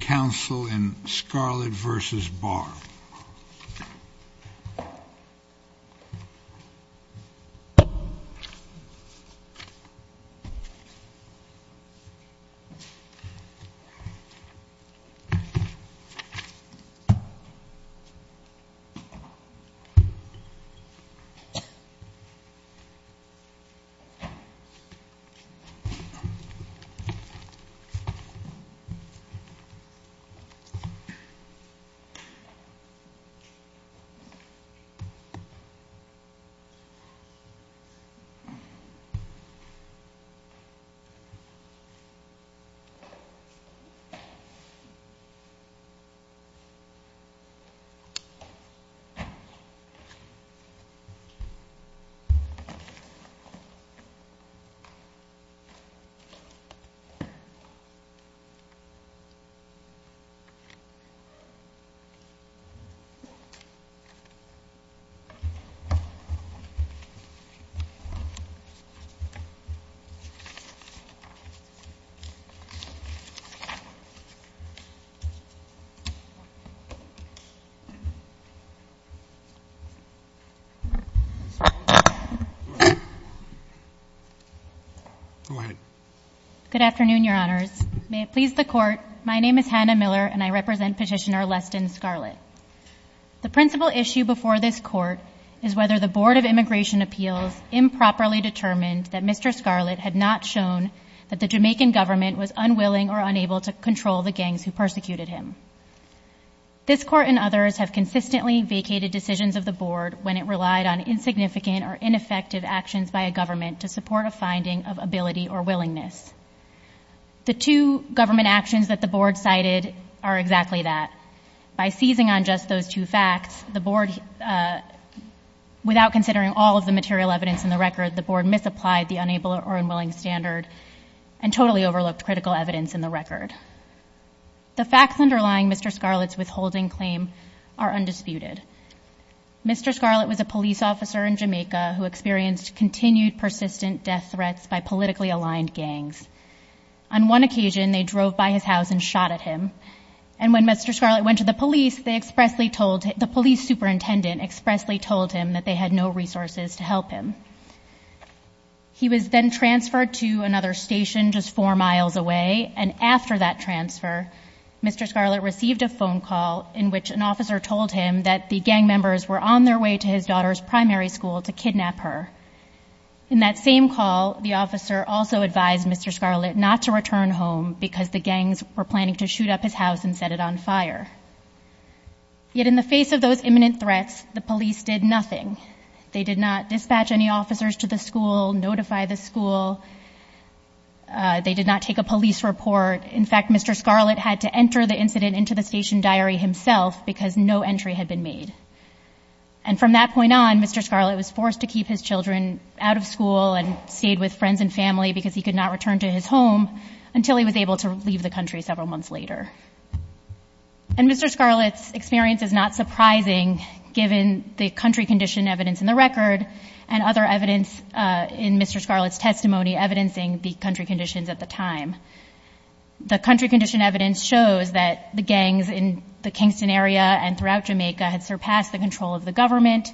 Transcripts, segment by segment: counsel in Scarlett v. Barr. Thank you, Ms. Barlett. Go ahead. Good afternoon, Your Honors. May it please the Court, my name is Hannah Miller and I represent Petitioner Leston Scarlett. The principal issue before this Court is whether the Board of Immigration Appeals improperly determined that Mr. Scarlett had not shown that the Jamaican government was unwilling or unable to control the gangs who persecuted him. This Court and others have consistently vacated decisions of the Board when it relied on insignificant or ineffective actions by a government to support a finding of ability or willingness. The two government actions that the Board cited are exactly that. By seizing on just those two facts, the Board, without considering all of the material evidence in the record, the Board misapplied the unable or unwilling standard and totally overlooked critical evidence in the record. The facts underlying Mr. Scarlett's withholding claim are undisputed. Mr. Scarlett was a police officer in Jamaica who experienced continued persistent death warnings. On one occasion, they drove by his house and shot at him. And when Mr. Scarlett went to the police, the police superintendent expressly told him that they had no resources to help him. He was then transferred to another station just four miles away. And after that transfer, Mr. Scarlett received a phone call in which an officer told him that the gang members were on their way to his daughter's primary school to kidnap her. In that same call, the officer also advised Mr. Scarlett not to return home because the gangs were planning to shoot up his house and set it on fire. Yet in the face of those imminent threats, the police did nothing. They did not dispatch any officers to the school, notify the school. They did not take a police report. In fact, Mr. Scarlett had to enter the incident into the station diary himself because no entry had been made. And from that point on, Mr. Scarlett was forced to keep his children out of school and stayed with friends and family because he could not return to his home until he was able to leave the country several months later. And Mr. Scarlett's experience is not surprising given the country condition evidence in the record and other evidence in Mr. Scarlett's testimony evidencing the country conditions at the time. The country condition evidence shows that the gangs in the Kingston area and throughout Jamaica had surpassed the control of the government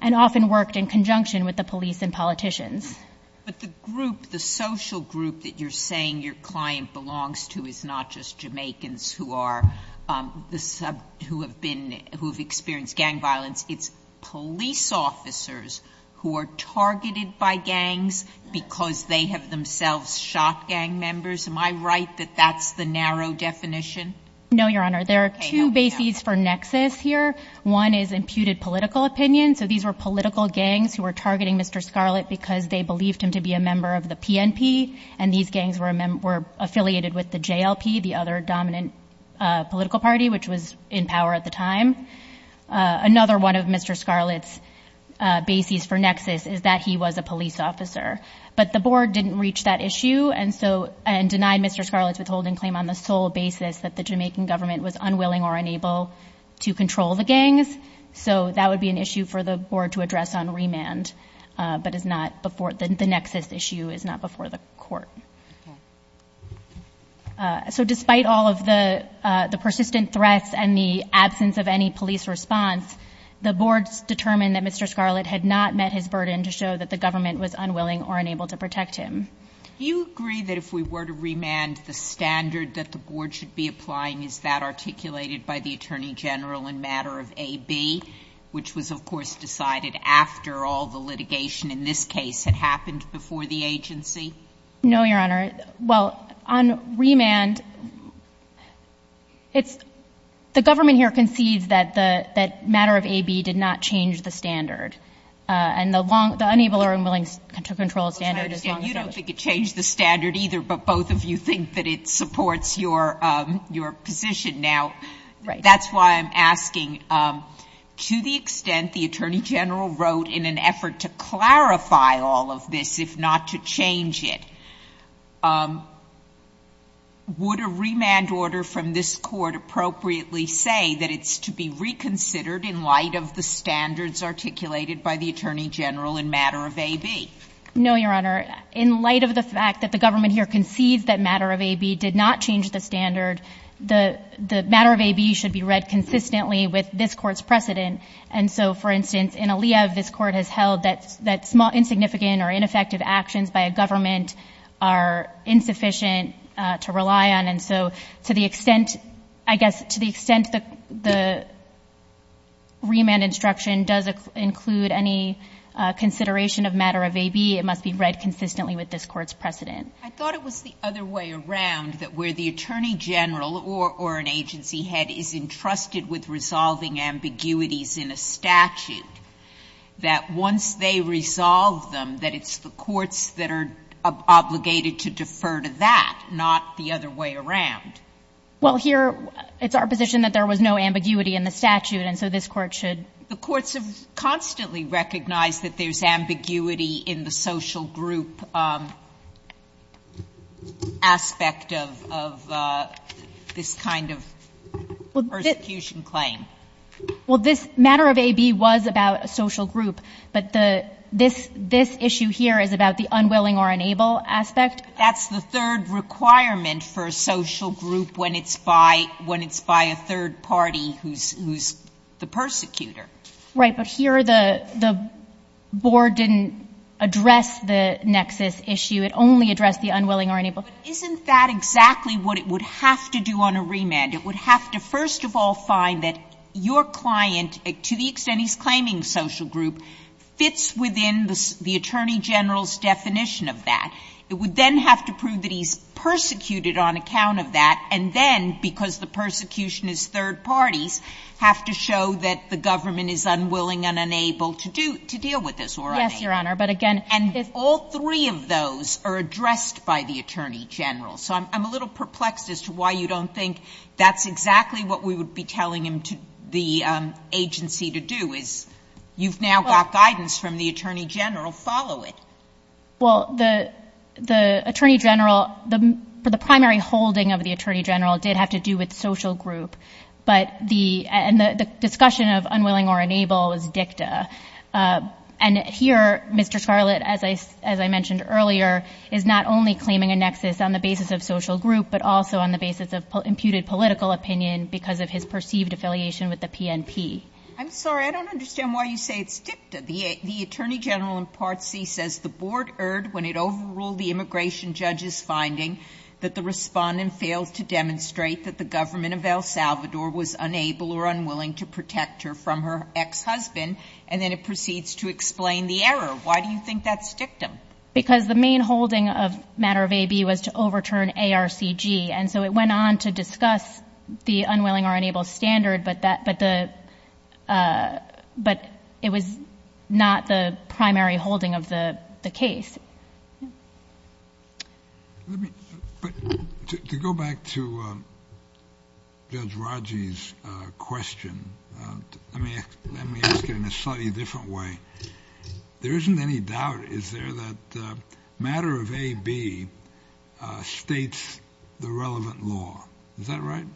and often worked in conjunction with the police and politicians. But the group, the social group that you're saying your client belongs to is not just Jamaicans who are, um, the sub, who have been, who've experienced gang violence. It's police officers who are targeted by gangs because they have themselves shot gang members. Am I right that that's the narrow definition? No Your Honor. There are two bases for nexus here. One is imputed political opinion. So these were political gangs who were targeting Mr. Scarlett because they believed him to be a member of the PNP and these gangs were affiliated with the JLP, the other dominant political party which was in power at the time. Another one of Mr. Scarlett's bases for nexus is that he was a police officer. But the board didn't reach that issue and so, and denied Mr. Scarlett's withholding claim on the sole basis that the Jamaican government was unwilling or unable to control the gangs. So that would be an issue for the board to address on remand, but it's not before, the nexus issue is not before the court. So despite all of the, uh, the persistent threats and the absence of any police response, the boards determined that Mr. Scarlett had not met his burden to show that the government was unwilling or unable to protect him. Do you agree that if we were to remand, the standard that the board should be applying is that articulated by the Attorney General in matter of AB, which was of course decided after all the litigation in this case had happened before the agency? No, Your Honor. Well, on remand, it's, the government here concedes that the, that matter of AB did not change the standard. Uh, and the long, the unable or unwilling to control standard is long standing. Well, you don't think it changed the standard either, but both of you think that it supports your, um, your position now, right? That's why I'm asking, um, to the extent the Attorney General wrote in an effort to clarify all of this, if not to change it, um, would a remand order from this court appropriately say that it's to be reconsidered in light of the standards articulated by the Attorney General in matter of AB? No, Your Honor. In light of the fact that the government here concedes that matter of AB did not change the standard, the, the matter of AB should be read consistently with this court's precedent. And so, for instance, in Aliev, this court has held that, that small, insignificant or ineffective actions by a government are insufficient, uh, to rely on. And so, to the extent, I guess, to the extent the, the remand instruction does include any, uh, consideration of matter of AB, it must be read consistently with this court's precedent. I thought it was the other way around, that where the Attorney General or, or an agency head is entrusted with resolving ambiguities in a statute, that once they resolve them, that it's the courts that are obligated to defer to that, not the other way around. Well, here, it's our position that there was no ambiguity in the statute, and so this court should. The courts have constantly recognized that there's ambiguity in the social group, um, aspect of, of, uh, this kind of persecution claim. Well, this matter of AB was about a social group, but the, this, this issue here is about the unwilling or unable aspect. That's the third requirement for a social group when it's by, when it's by a third party who's, who's the persecutor. Right. But here, the, the board didn't address the nexus issue, it only addressed the unwilling or unable. But isn't that exactly what it would have to do on a remand? It would have to, first of all, find that your client, to the extent he's claiming social group, fits within the, the Attorney General's definition of that. It would then have to prove that he's persecuted on account of that, and then, because the parties have to show that the government is unwilling and unable to do, to deal with this or unable. Yes, Your Honor. But again, if... And all three of those are addressed by the Attorney General, so I'm, I'm a little perplexed as to why you don't think that's exactly what we would be telling him to, the, um, agency to do is, you've now got guidance from the Attorney General, follow it. Well, the, the Attorney General, the, for the primary holding of the Attorney General did have to do with social group. But the, and the, the discussion of unwilling or unable is dicta. And here, Mr. Scarlett, as I, as I mentioned earlier, is not only claiming a nexus on the basis of social group, but also on the basis of imputed political opinion because of his perceived affiliation with the PNP. I'm sorry, I don't understand why you say it's dicta. The, the Attorney General in Part C says, the Board erred when it overruled the immigration judge's finding that the respondent failed to demonstrate that the government of El Salvador was unable or unwilling to protect her from her ex-husband, and then it proceeds to explain the error. Why do you think that's dictum? Because the main holding of matter of AB was to overturn ARCG, and so it went on to discuss the unwilling or unable standard, but that, but the, uh, but it was not the primary holding of the, the case. Let me, but to, to go back to, uh, Judge Raji's, uh, question, uh, let me, let me ask it in a slightly different way. There isn't any doubt, is there, that, uh, matter of AB, uh, states the relevant law. Is that right?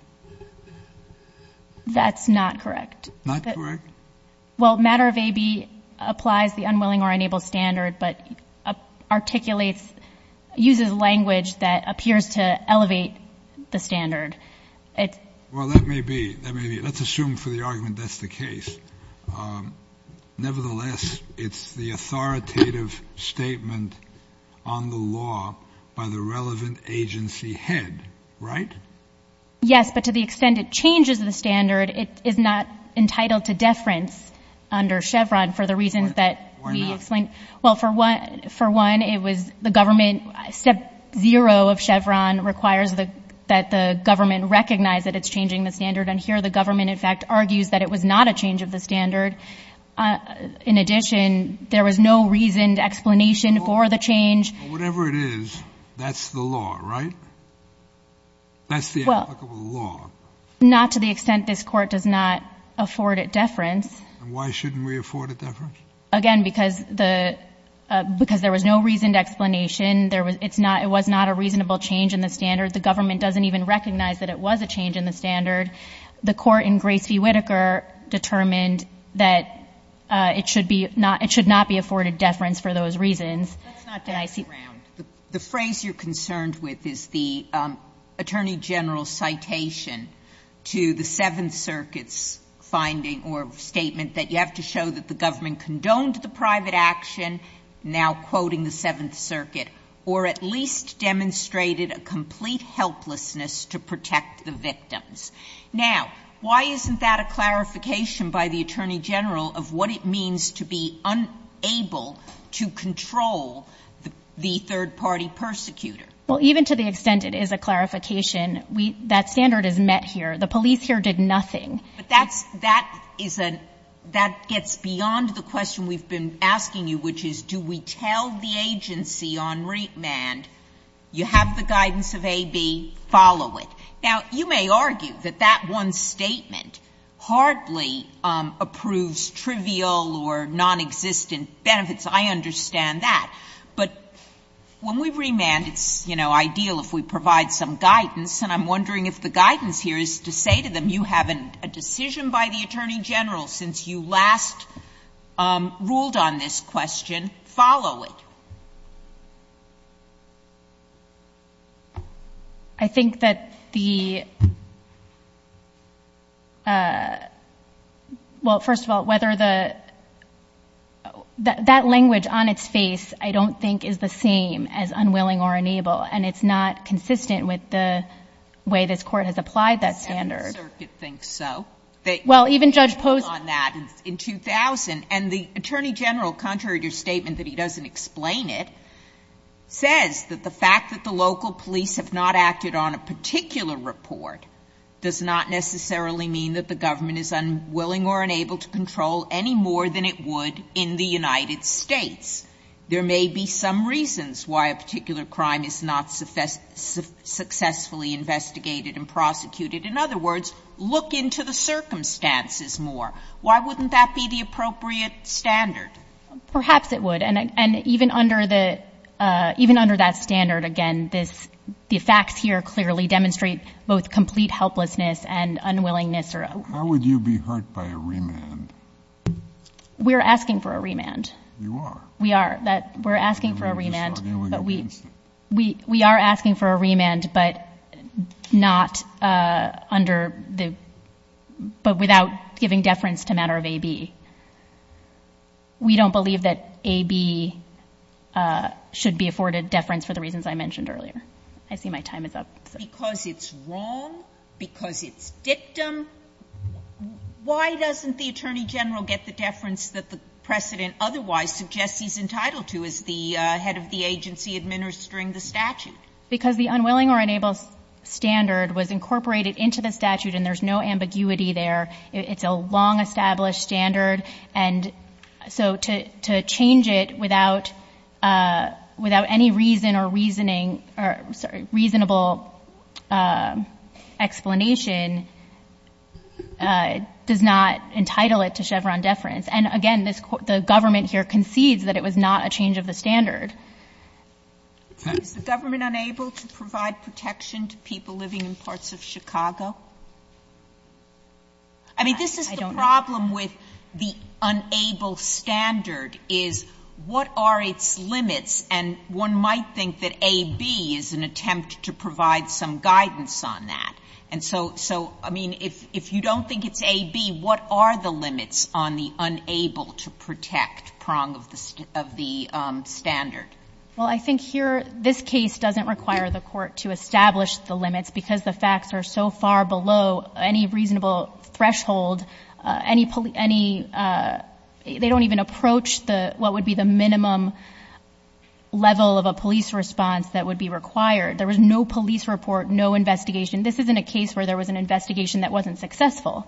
That's not correct. Not correct? Well, matter of AB applies the unwilling or unable standard, but, uh, articulates, uses language that appears to elevate the standard. It's... Well, that may be, that may be, let's assume for the argument that's the case, um, nevertheless, it's the authoritative statement on the law by the relevant agency head, right? Yes, but to the extent it changes the standard, it is not entitled to deference under Chevron for the reasons that we explained. Well, for one, for one, it was the government, step zero of Chevron requires the, that the government recognize that it's changing the standard, and here the government, in fact, argues that it was not a change of the standard. In addition, there was no reasoned explanation for the change. Whatever it is, that's the law, right? That's the applicable law. Well, not to the extent this Court does not afford it deference. And why shouldn't we afford it deference? Again, because the, because there was no reasoned explanation. There was, it's not, it was not a reasonable change in the standard. The government doesn't even recognize that it was a change in the standard. The Court in Grace v. Whitaker determined that it should be not, it should not be afforded deference for those reasons. Let's not back around. Sotomayor, the phrase you're concerned with is the Attorney General's citation to the Seventh Circuit's finding or statement that you have to show that the government condoned the private action, now quoting the Seventh Circuit, or at least demonstrated a complete helplessness to protect the victims. Now, why isn't that a clarification by the Attorney General of what it means to be unable to control the third-party persecutor? Well, even to the extent it is a clarification, we, that standard is met here. The police here did nothing. But that's, that is a, that gets beyond the question we've been asking you, which is do we tell the agency on remand, you have the guidance of AB, follow it. Now, you may argue that that one statement hardly approves trivial or nonexistent benefits. I understand that. But when we remand, it's, you know, ideal if we provide some guidance. And I'm wondering if the guidance here is to say to them, you have a decision by the Attorney General since you last ruled on this question, follow it. I think that the, well, first of all, whether the, that language on its face, I don't think is the same as unwilling or unable. And it's not consistent with the way this Court has applied that standard. The Seventh Circuit thinks so. Well, even Judge Post. They ruled on that in 2000. And the Attorney General, contrary to your statement that he doesn't explain it, says that the fact that the local police have not acted on a particular report does not necessarily mean that the government is unwilling or unable to control any more than it would in the United States. There may be some reasons why a particular crime is not successfully investigated and prosecuted. In other words, look into the circumstances more. Why wouldn't that be the appropriate standard? Perhaps it would. And even under that standard, again, the facts here clearly demonstrate both complete helplessness and unwillingness. How would you be hurt by a remand? We're asking for a remand. You are. We are. We're asking for a remand. But we are asking for a remand, but not under the, but without giving deference to matter of AB. We don't believe that AB should be afforded deference for the reasons I mentioned earlier. I see my time is up. Because it's wrong, because it's dictum. Why doesn't the Attorney General get the deference that the precedent otherwise suggests he's entitled to as the head of the agency administering the statute? Because the unwilling or unable standard was incorporated into the statute, and there's no ambiguity there. It's a long-established standard. And so to change it without any reason or reasoning, or, sorry, reasonable explanation does not entitle it to Chevron deference. And again, the government here concedes that it was not a change of the standard. Is the government unable to provide protection to people living in parts of Chicago? I mean, this is the problem with the unable standard, is what are its limits? And one might think that AB is an attempt to provide some guidance on that. And so, I mean, if you don't think it's AB, what are the limits on the unable to protect prong of the standard? Well, I think here, this case doesn't require the court to establish the limits, because the facts are so far below any reasonable threshold, any, they don't even approach what would be the minimum level of a police response that would be required. There was no police report, no investigation. This isn't a case where there was an investigation that wasn't successful.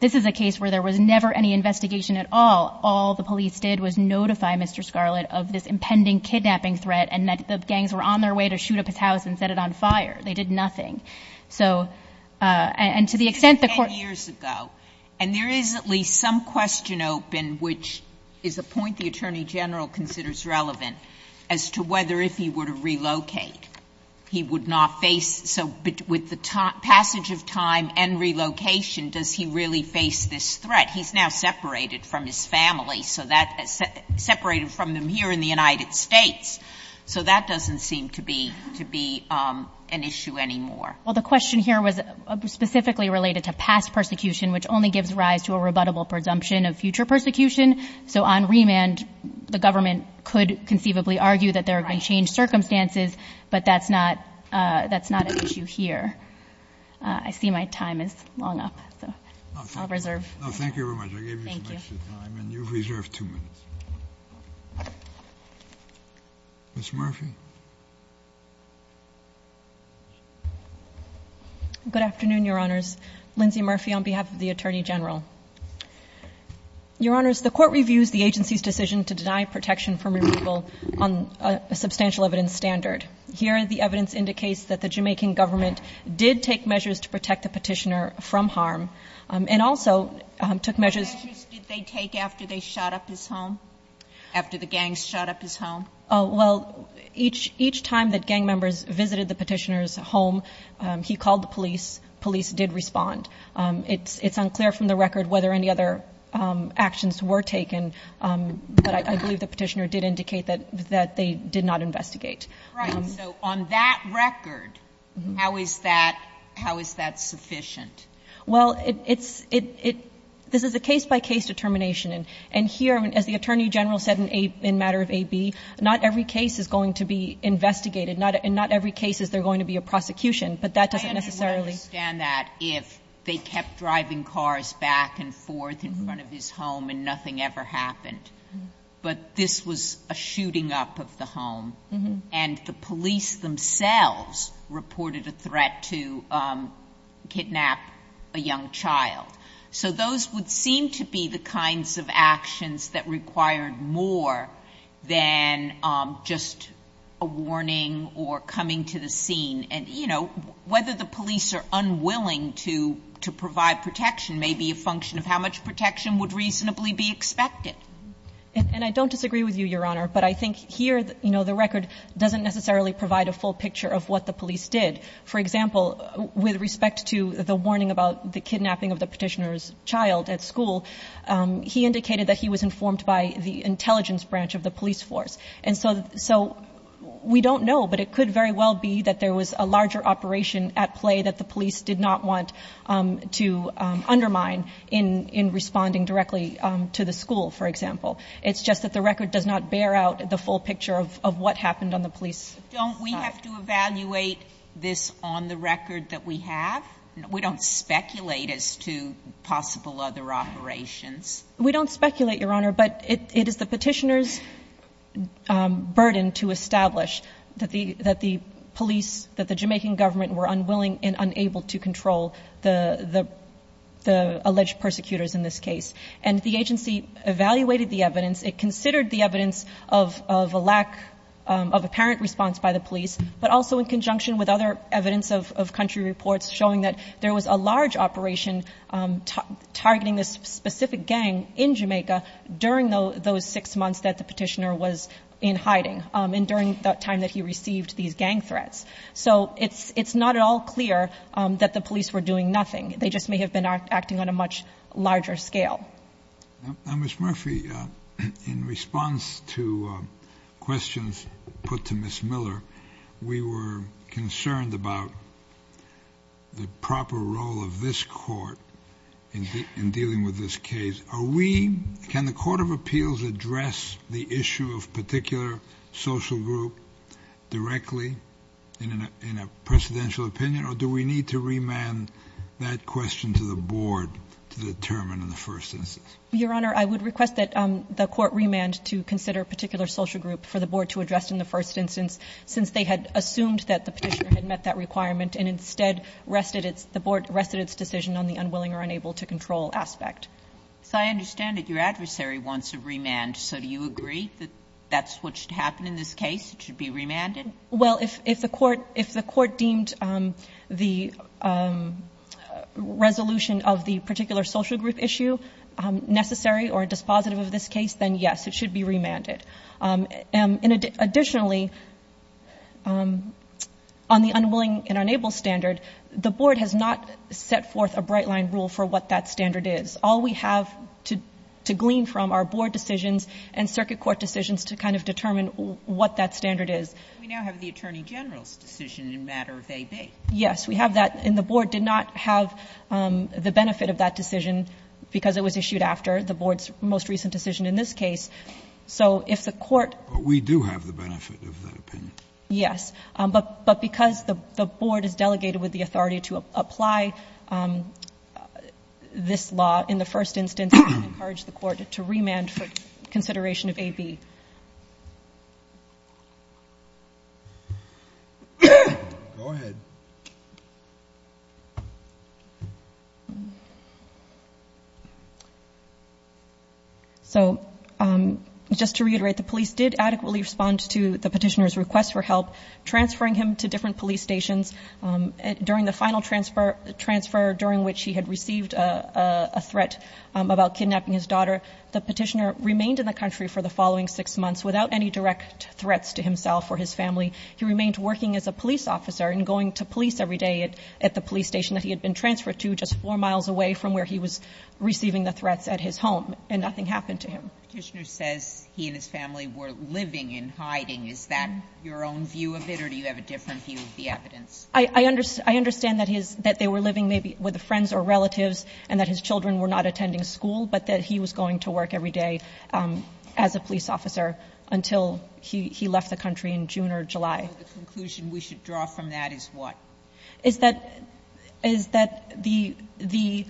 This is a case where there was never any investigation at all. All the police did was notify Mr. Scarlett of this impending kidnapping threat and that the gangs were on their way to shoot up his house and set it on fire. They did nothing. So, and to the extent the court ---- Sotomayor, ten years ago, and there is at least some question open, which is a point the Attorney General considers relevant, as to whether if he were to relocate, he would not face, so with the passage of time and relocation, does he really face this threat? He's now separated from his family, so that, separated from them here in the United States. So that doesn't seem to be, to be an issue anymore. Well, the question here was specifically related to past persecution, which only gives rise to a rebuttable presumption of future persecution. So on remand, the government could conceivably argue that there are going to change circumstances, but that's not, that's not an issue here. I see my time is long up, so I'll reserve. No, thank you very much. I gave you some extra time, and you've reserved two minutes. Ms. Murphy? Good afternoon, Your Honors. Lindsay Murphy on behalf of the Attorney General. Your Honors, the Court reviews the agency's decision to deny protection from removal on a substantial evidence standard. Here, the evidence indicates that the Jamaican government did take measures to protect the petitioner from harm, and also took measures. What measures did they take after they shot up his home, after the gangs shot up his home? Oh, well, each time that gang members visited the petitioner's home, he called the police. Police did respond. It's unclear from the record whether any other actions were taken, but I believe the petitioner did indicate that they did not investigate. Right. So on that record, how is that, how is that sufficient? Well, it's, it, it, this is a case-by-case determination, and here, as the Attorney General said in a, in matter of AB, not every case is going to be investigated. Not, in not every case is there going to be a prosecution, but that doesn't necessarily. I understand that if they kept driving cars back and forth in front of his home and nothing ever happened, but this was a shooting up of the home. And the police themselves reported a threat to kidnap a young child. So those would seem to be the kinds of actions that required more than just a warning or coming to the scene. And, you know, whether the police are unwilling to, to provide protection may be a function of how much protection would reasonably be expected. And I don't disagree with you, Your Honor, but I think here, you know, the record doesn't necessarily provide a full picture of what the police did. For example, with respect to the warning about the kidnapping of the petitioner's child at school, he indicated that he was informed by the intelligence branch of the police force. And so, so we don't know, but it could very well be that there was a larger operation at play that the police did not want to undermine in, in responding directly to the school, for example. It's just that the record does not bear out the full picture of, of what happened on the police. Don't we have to evaluate this on the record that we have? We don't speculate as to possible other operations. We don't speculate, Your Honor, but it is the petitioner's burden to establish that the, that the police, that the Jamaican government were unwilling and unable to control the, the, the alleged persecutors in this case. And the agency evaluated the evidence. It considered the evidence of, of a lack of apparent response by the police, but also in conjunction with other evidence of, of country reports showing that there was a large operation targeting this specific gang in Jamaica during those six months that the petitioner was in hiding and during that time that he received these gang threats. So it's, it's not at all clear that the police were doing nothing. They just may have been acting on a much larger scale. Now, Ms. Murphy, in response to questions put to Ms. Miller, we were concerned about the proper role of this court in dealing with this case, are we, can the court of appeals address the issue of particular social group directly in a, in a presidential opinion, or do we need to remand that determined in the first instance? Your Honor, I would request that the court remand to consider a particular social group for the board to address in the first instance, since they had assumed that the petitioner had met that requirement and instead rested its, the board rested its decision on the unwilling or unable to control aspect. So I understand that your adversary wants a remand. So do you agree that that's what should happen in this case? It should be remanded? Well, if, if the court, if the court deemed the resolution of the particular social group issue necessary or dispositive of this case, then yes, it should be remanded. And additionally, on the unwilling and unable standard, the board has not set forth a bright line rule for what that standard is. All we have to, to glean from our board decisions and circuit court decisions to kind of determine what that standard is. We now have the attorney general's decision in matter of AB. Yes, we have that. And the board did not have the benefit of that decision because it was issued after the board's most recent decision in this case. So if the court. We do have the benefit of that opinion. Yes. But, but because the board is delegated with the authority to apply this law in the first instance, we encourage the court to remand for consideration of AB. Go ahead. So just to reiterate, the police did adequately respond to the petitioner's request for help, transferring him to different police stations during the final transfer transfer, during which he had received a threat about kidnapping his daughter. The petitioner remained in the country for the following six months without any direct threats to himself or his family. He remained working as a police officer and going to police every day at the police station that he had been transferred to just four miles away from where he was receiving the threats at his home and nothing happened to him. Petitioner says he and his family were living in hiding. Is that your own view of it? Or do you have a different view of the evidence? I, I understand, I understand that his, that they were living maybe with friends or relatives and that his children were not attending school, but that he was going to work every day, um, as a police officer until he, he left the country in June or July. The conclusion we should draw from that is what? Is that, is that the, the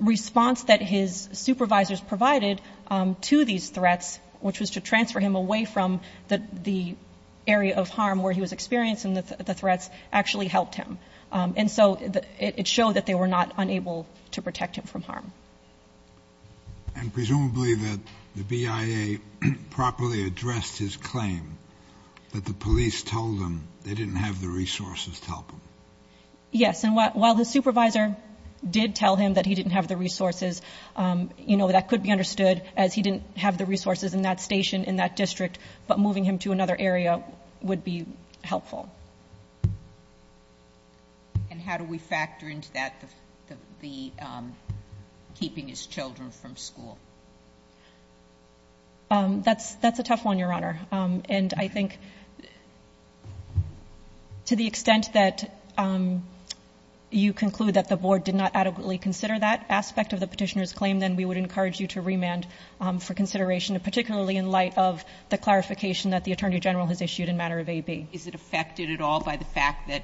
response that his supervisors provided, um, to these threats, which was to transfer him away from the, the area of harm where he was experiencing the threats actually helped him. Um, and so it showed that they were not unable to protect him from harm. And presumably that the BIA properly addressed his claim that the police told them they didn't have the resources to help him. Yes. And while his supervisor did tell him that he didn't have the resources, um, you know, that could be understood as he didn't have the resources in that station, in that district, but moving him to another area would be helpful. And how do we factor into that, the, the, um, keeping his children from school? Um, that's, that's a tough one, Your Honor. Um, and I think to the extent that, um, you conclude that the board did not adequately consider that aspect of the petitioner's claim, then we would encourage you to remand, um, for consideration, particularly in light of the clarification that the Attorney General has issued in matter of AB. Is it affected at all by the fact that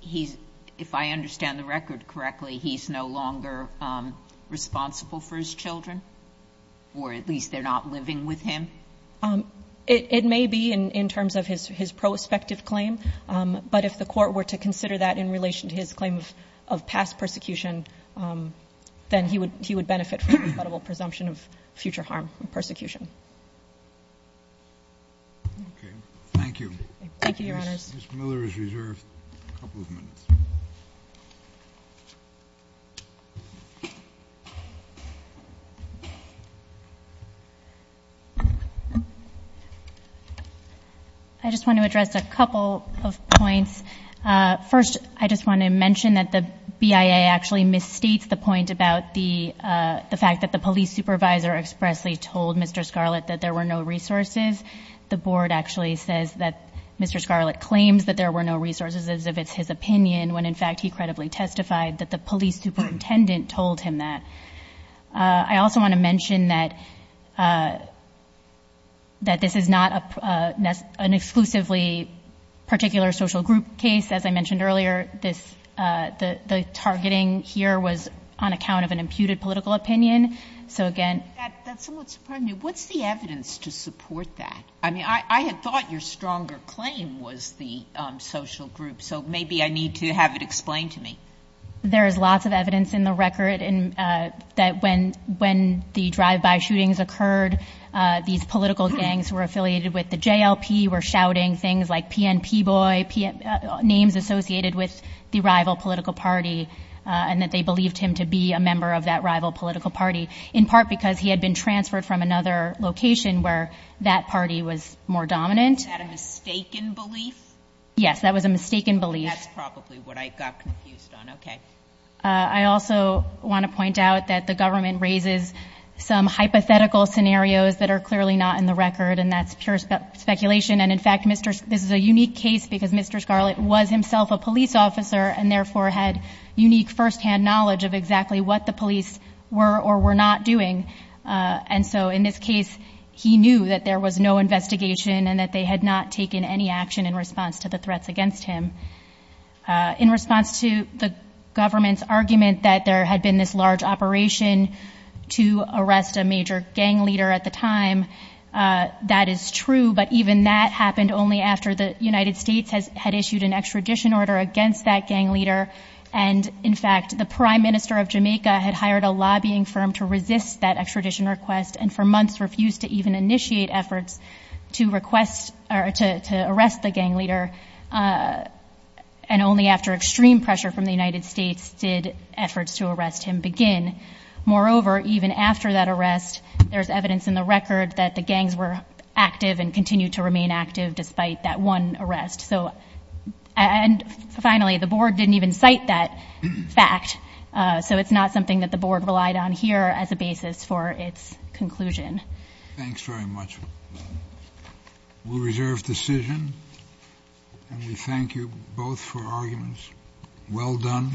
he's, if I understand the record correctly, he's no longer, um, responsible for his children or at least they're not living with him? Um, it, it may be in, in terms of his, his prospective claim. Um, but if the court were to consider that in relation to his claim of, of past persecution, um, then he would, he would benefit from a credible presumption of future harm and persecution. Thank you. Ms. Miller is reserved a couple of minutes. I just want to address a couple of points. Uh, first, I just want to mention that the BIA actually misstates the point about the, uh, the fact that the police supervisor expressly told Mr. Scarlett that there were no resources. The board actually says that Mr. Scarlett claims that there were no resources as if it's his opinion when in fact, he credibly testified that the police superintendent told him that. Uh, I also want to mention that, uh, that this is not a, uh, an exclusively particular social group case. As I mentioned earlier, this, uh, the, the targeting here was on account of an imputed political opinion. So again... That, that's somewhat surprising. What's the evidence to support that? I mean, I had thought your stronger claim was the, um, social group. So maybe I need to have it explained to me. There's lots of evidence in the record and, uh, that when, when the drive by shootings occurred, uh, these political gangs were affiliated with the JLP, were shouting things like PNP boy, P, uh, names associated with the rival political party, uh, and that they believed him to be a member of that rival political party in part, because he had been transferred from another location where that party was more dominant. Is that a mistaken belief? Yes. That was a mistaken belief. That's probably what I got confused on. Okay. Uh, I also want to point out that the government raises some hypothetical scenarios that are clearly not in the record and that's pure speculation. And in fact, Mr. This is a unique case because Mr. Scarlett was himself a police officer and therefore had unique firsthand knowledge of exactly what the police were or were not doing. Uh, and so in this case, he knew that there was no investigation and that they had not taken any action in response to the threats against him. Uh, in response to the government's argument that there had been this large operation to arrest a major gang leader at the time, uh, that is true. But even that happened only after the United States has had issued an extradition order against that gang leader. And in fact, the prime minister of Jamaica had hired a lobbying firm to extradition request and for months refused to even initiate efforts to request or to arrest the gang leader. Uh, and only after extreme pressure from the United States did efforts to arrest him begin. Moreover, even after that arrest, there's evidence in the record that the gangs were active and continue to remain active despite that one arrest. So, and finally, the board didn't even cite that fact. Uh, so it's not something that the board relied on here as a basis for its conclusion. Thanks very much. We'll reserve decision and we thank you both for arguments. Well done.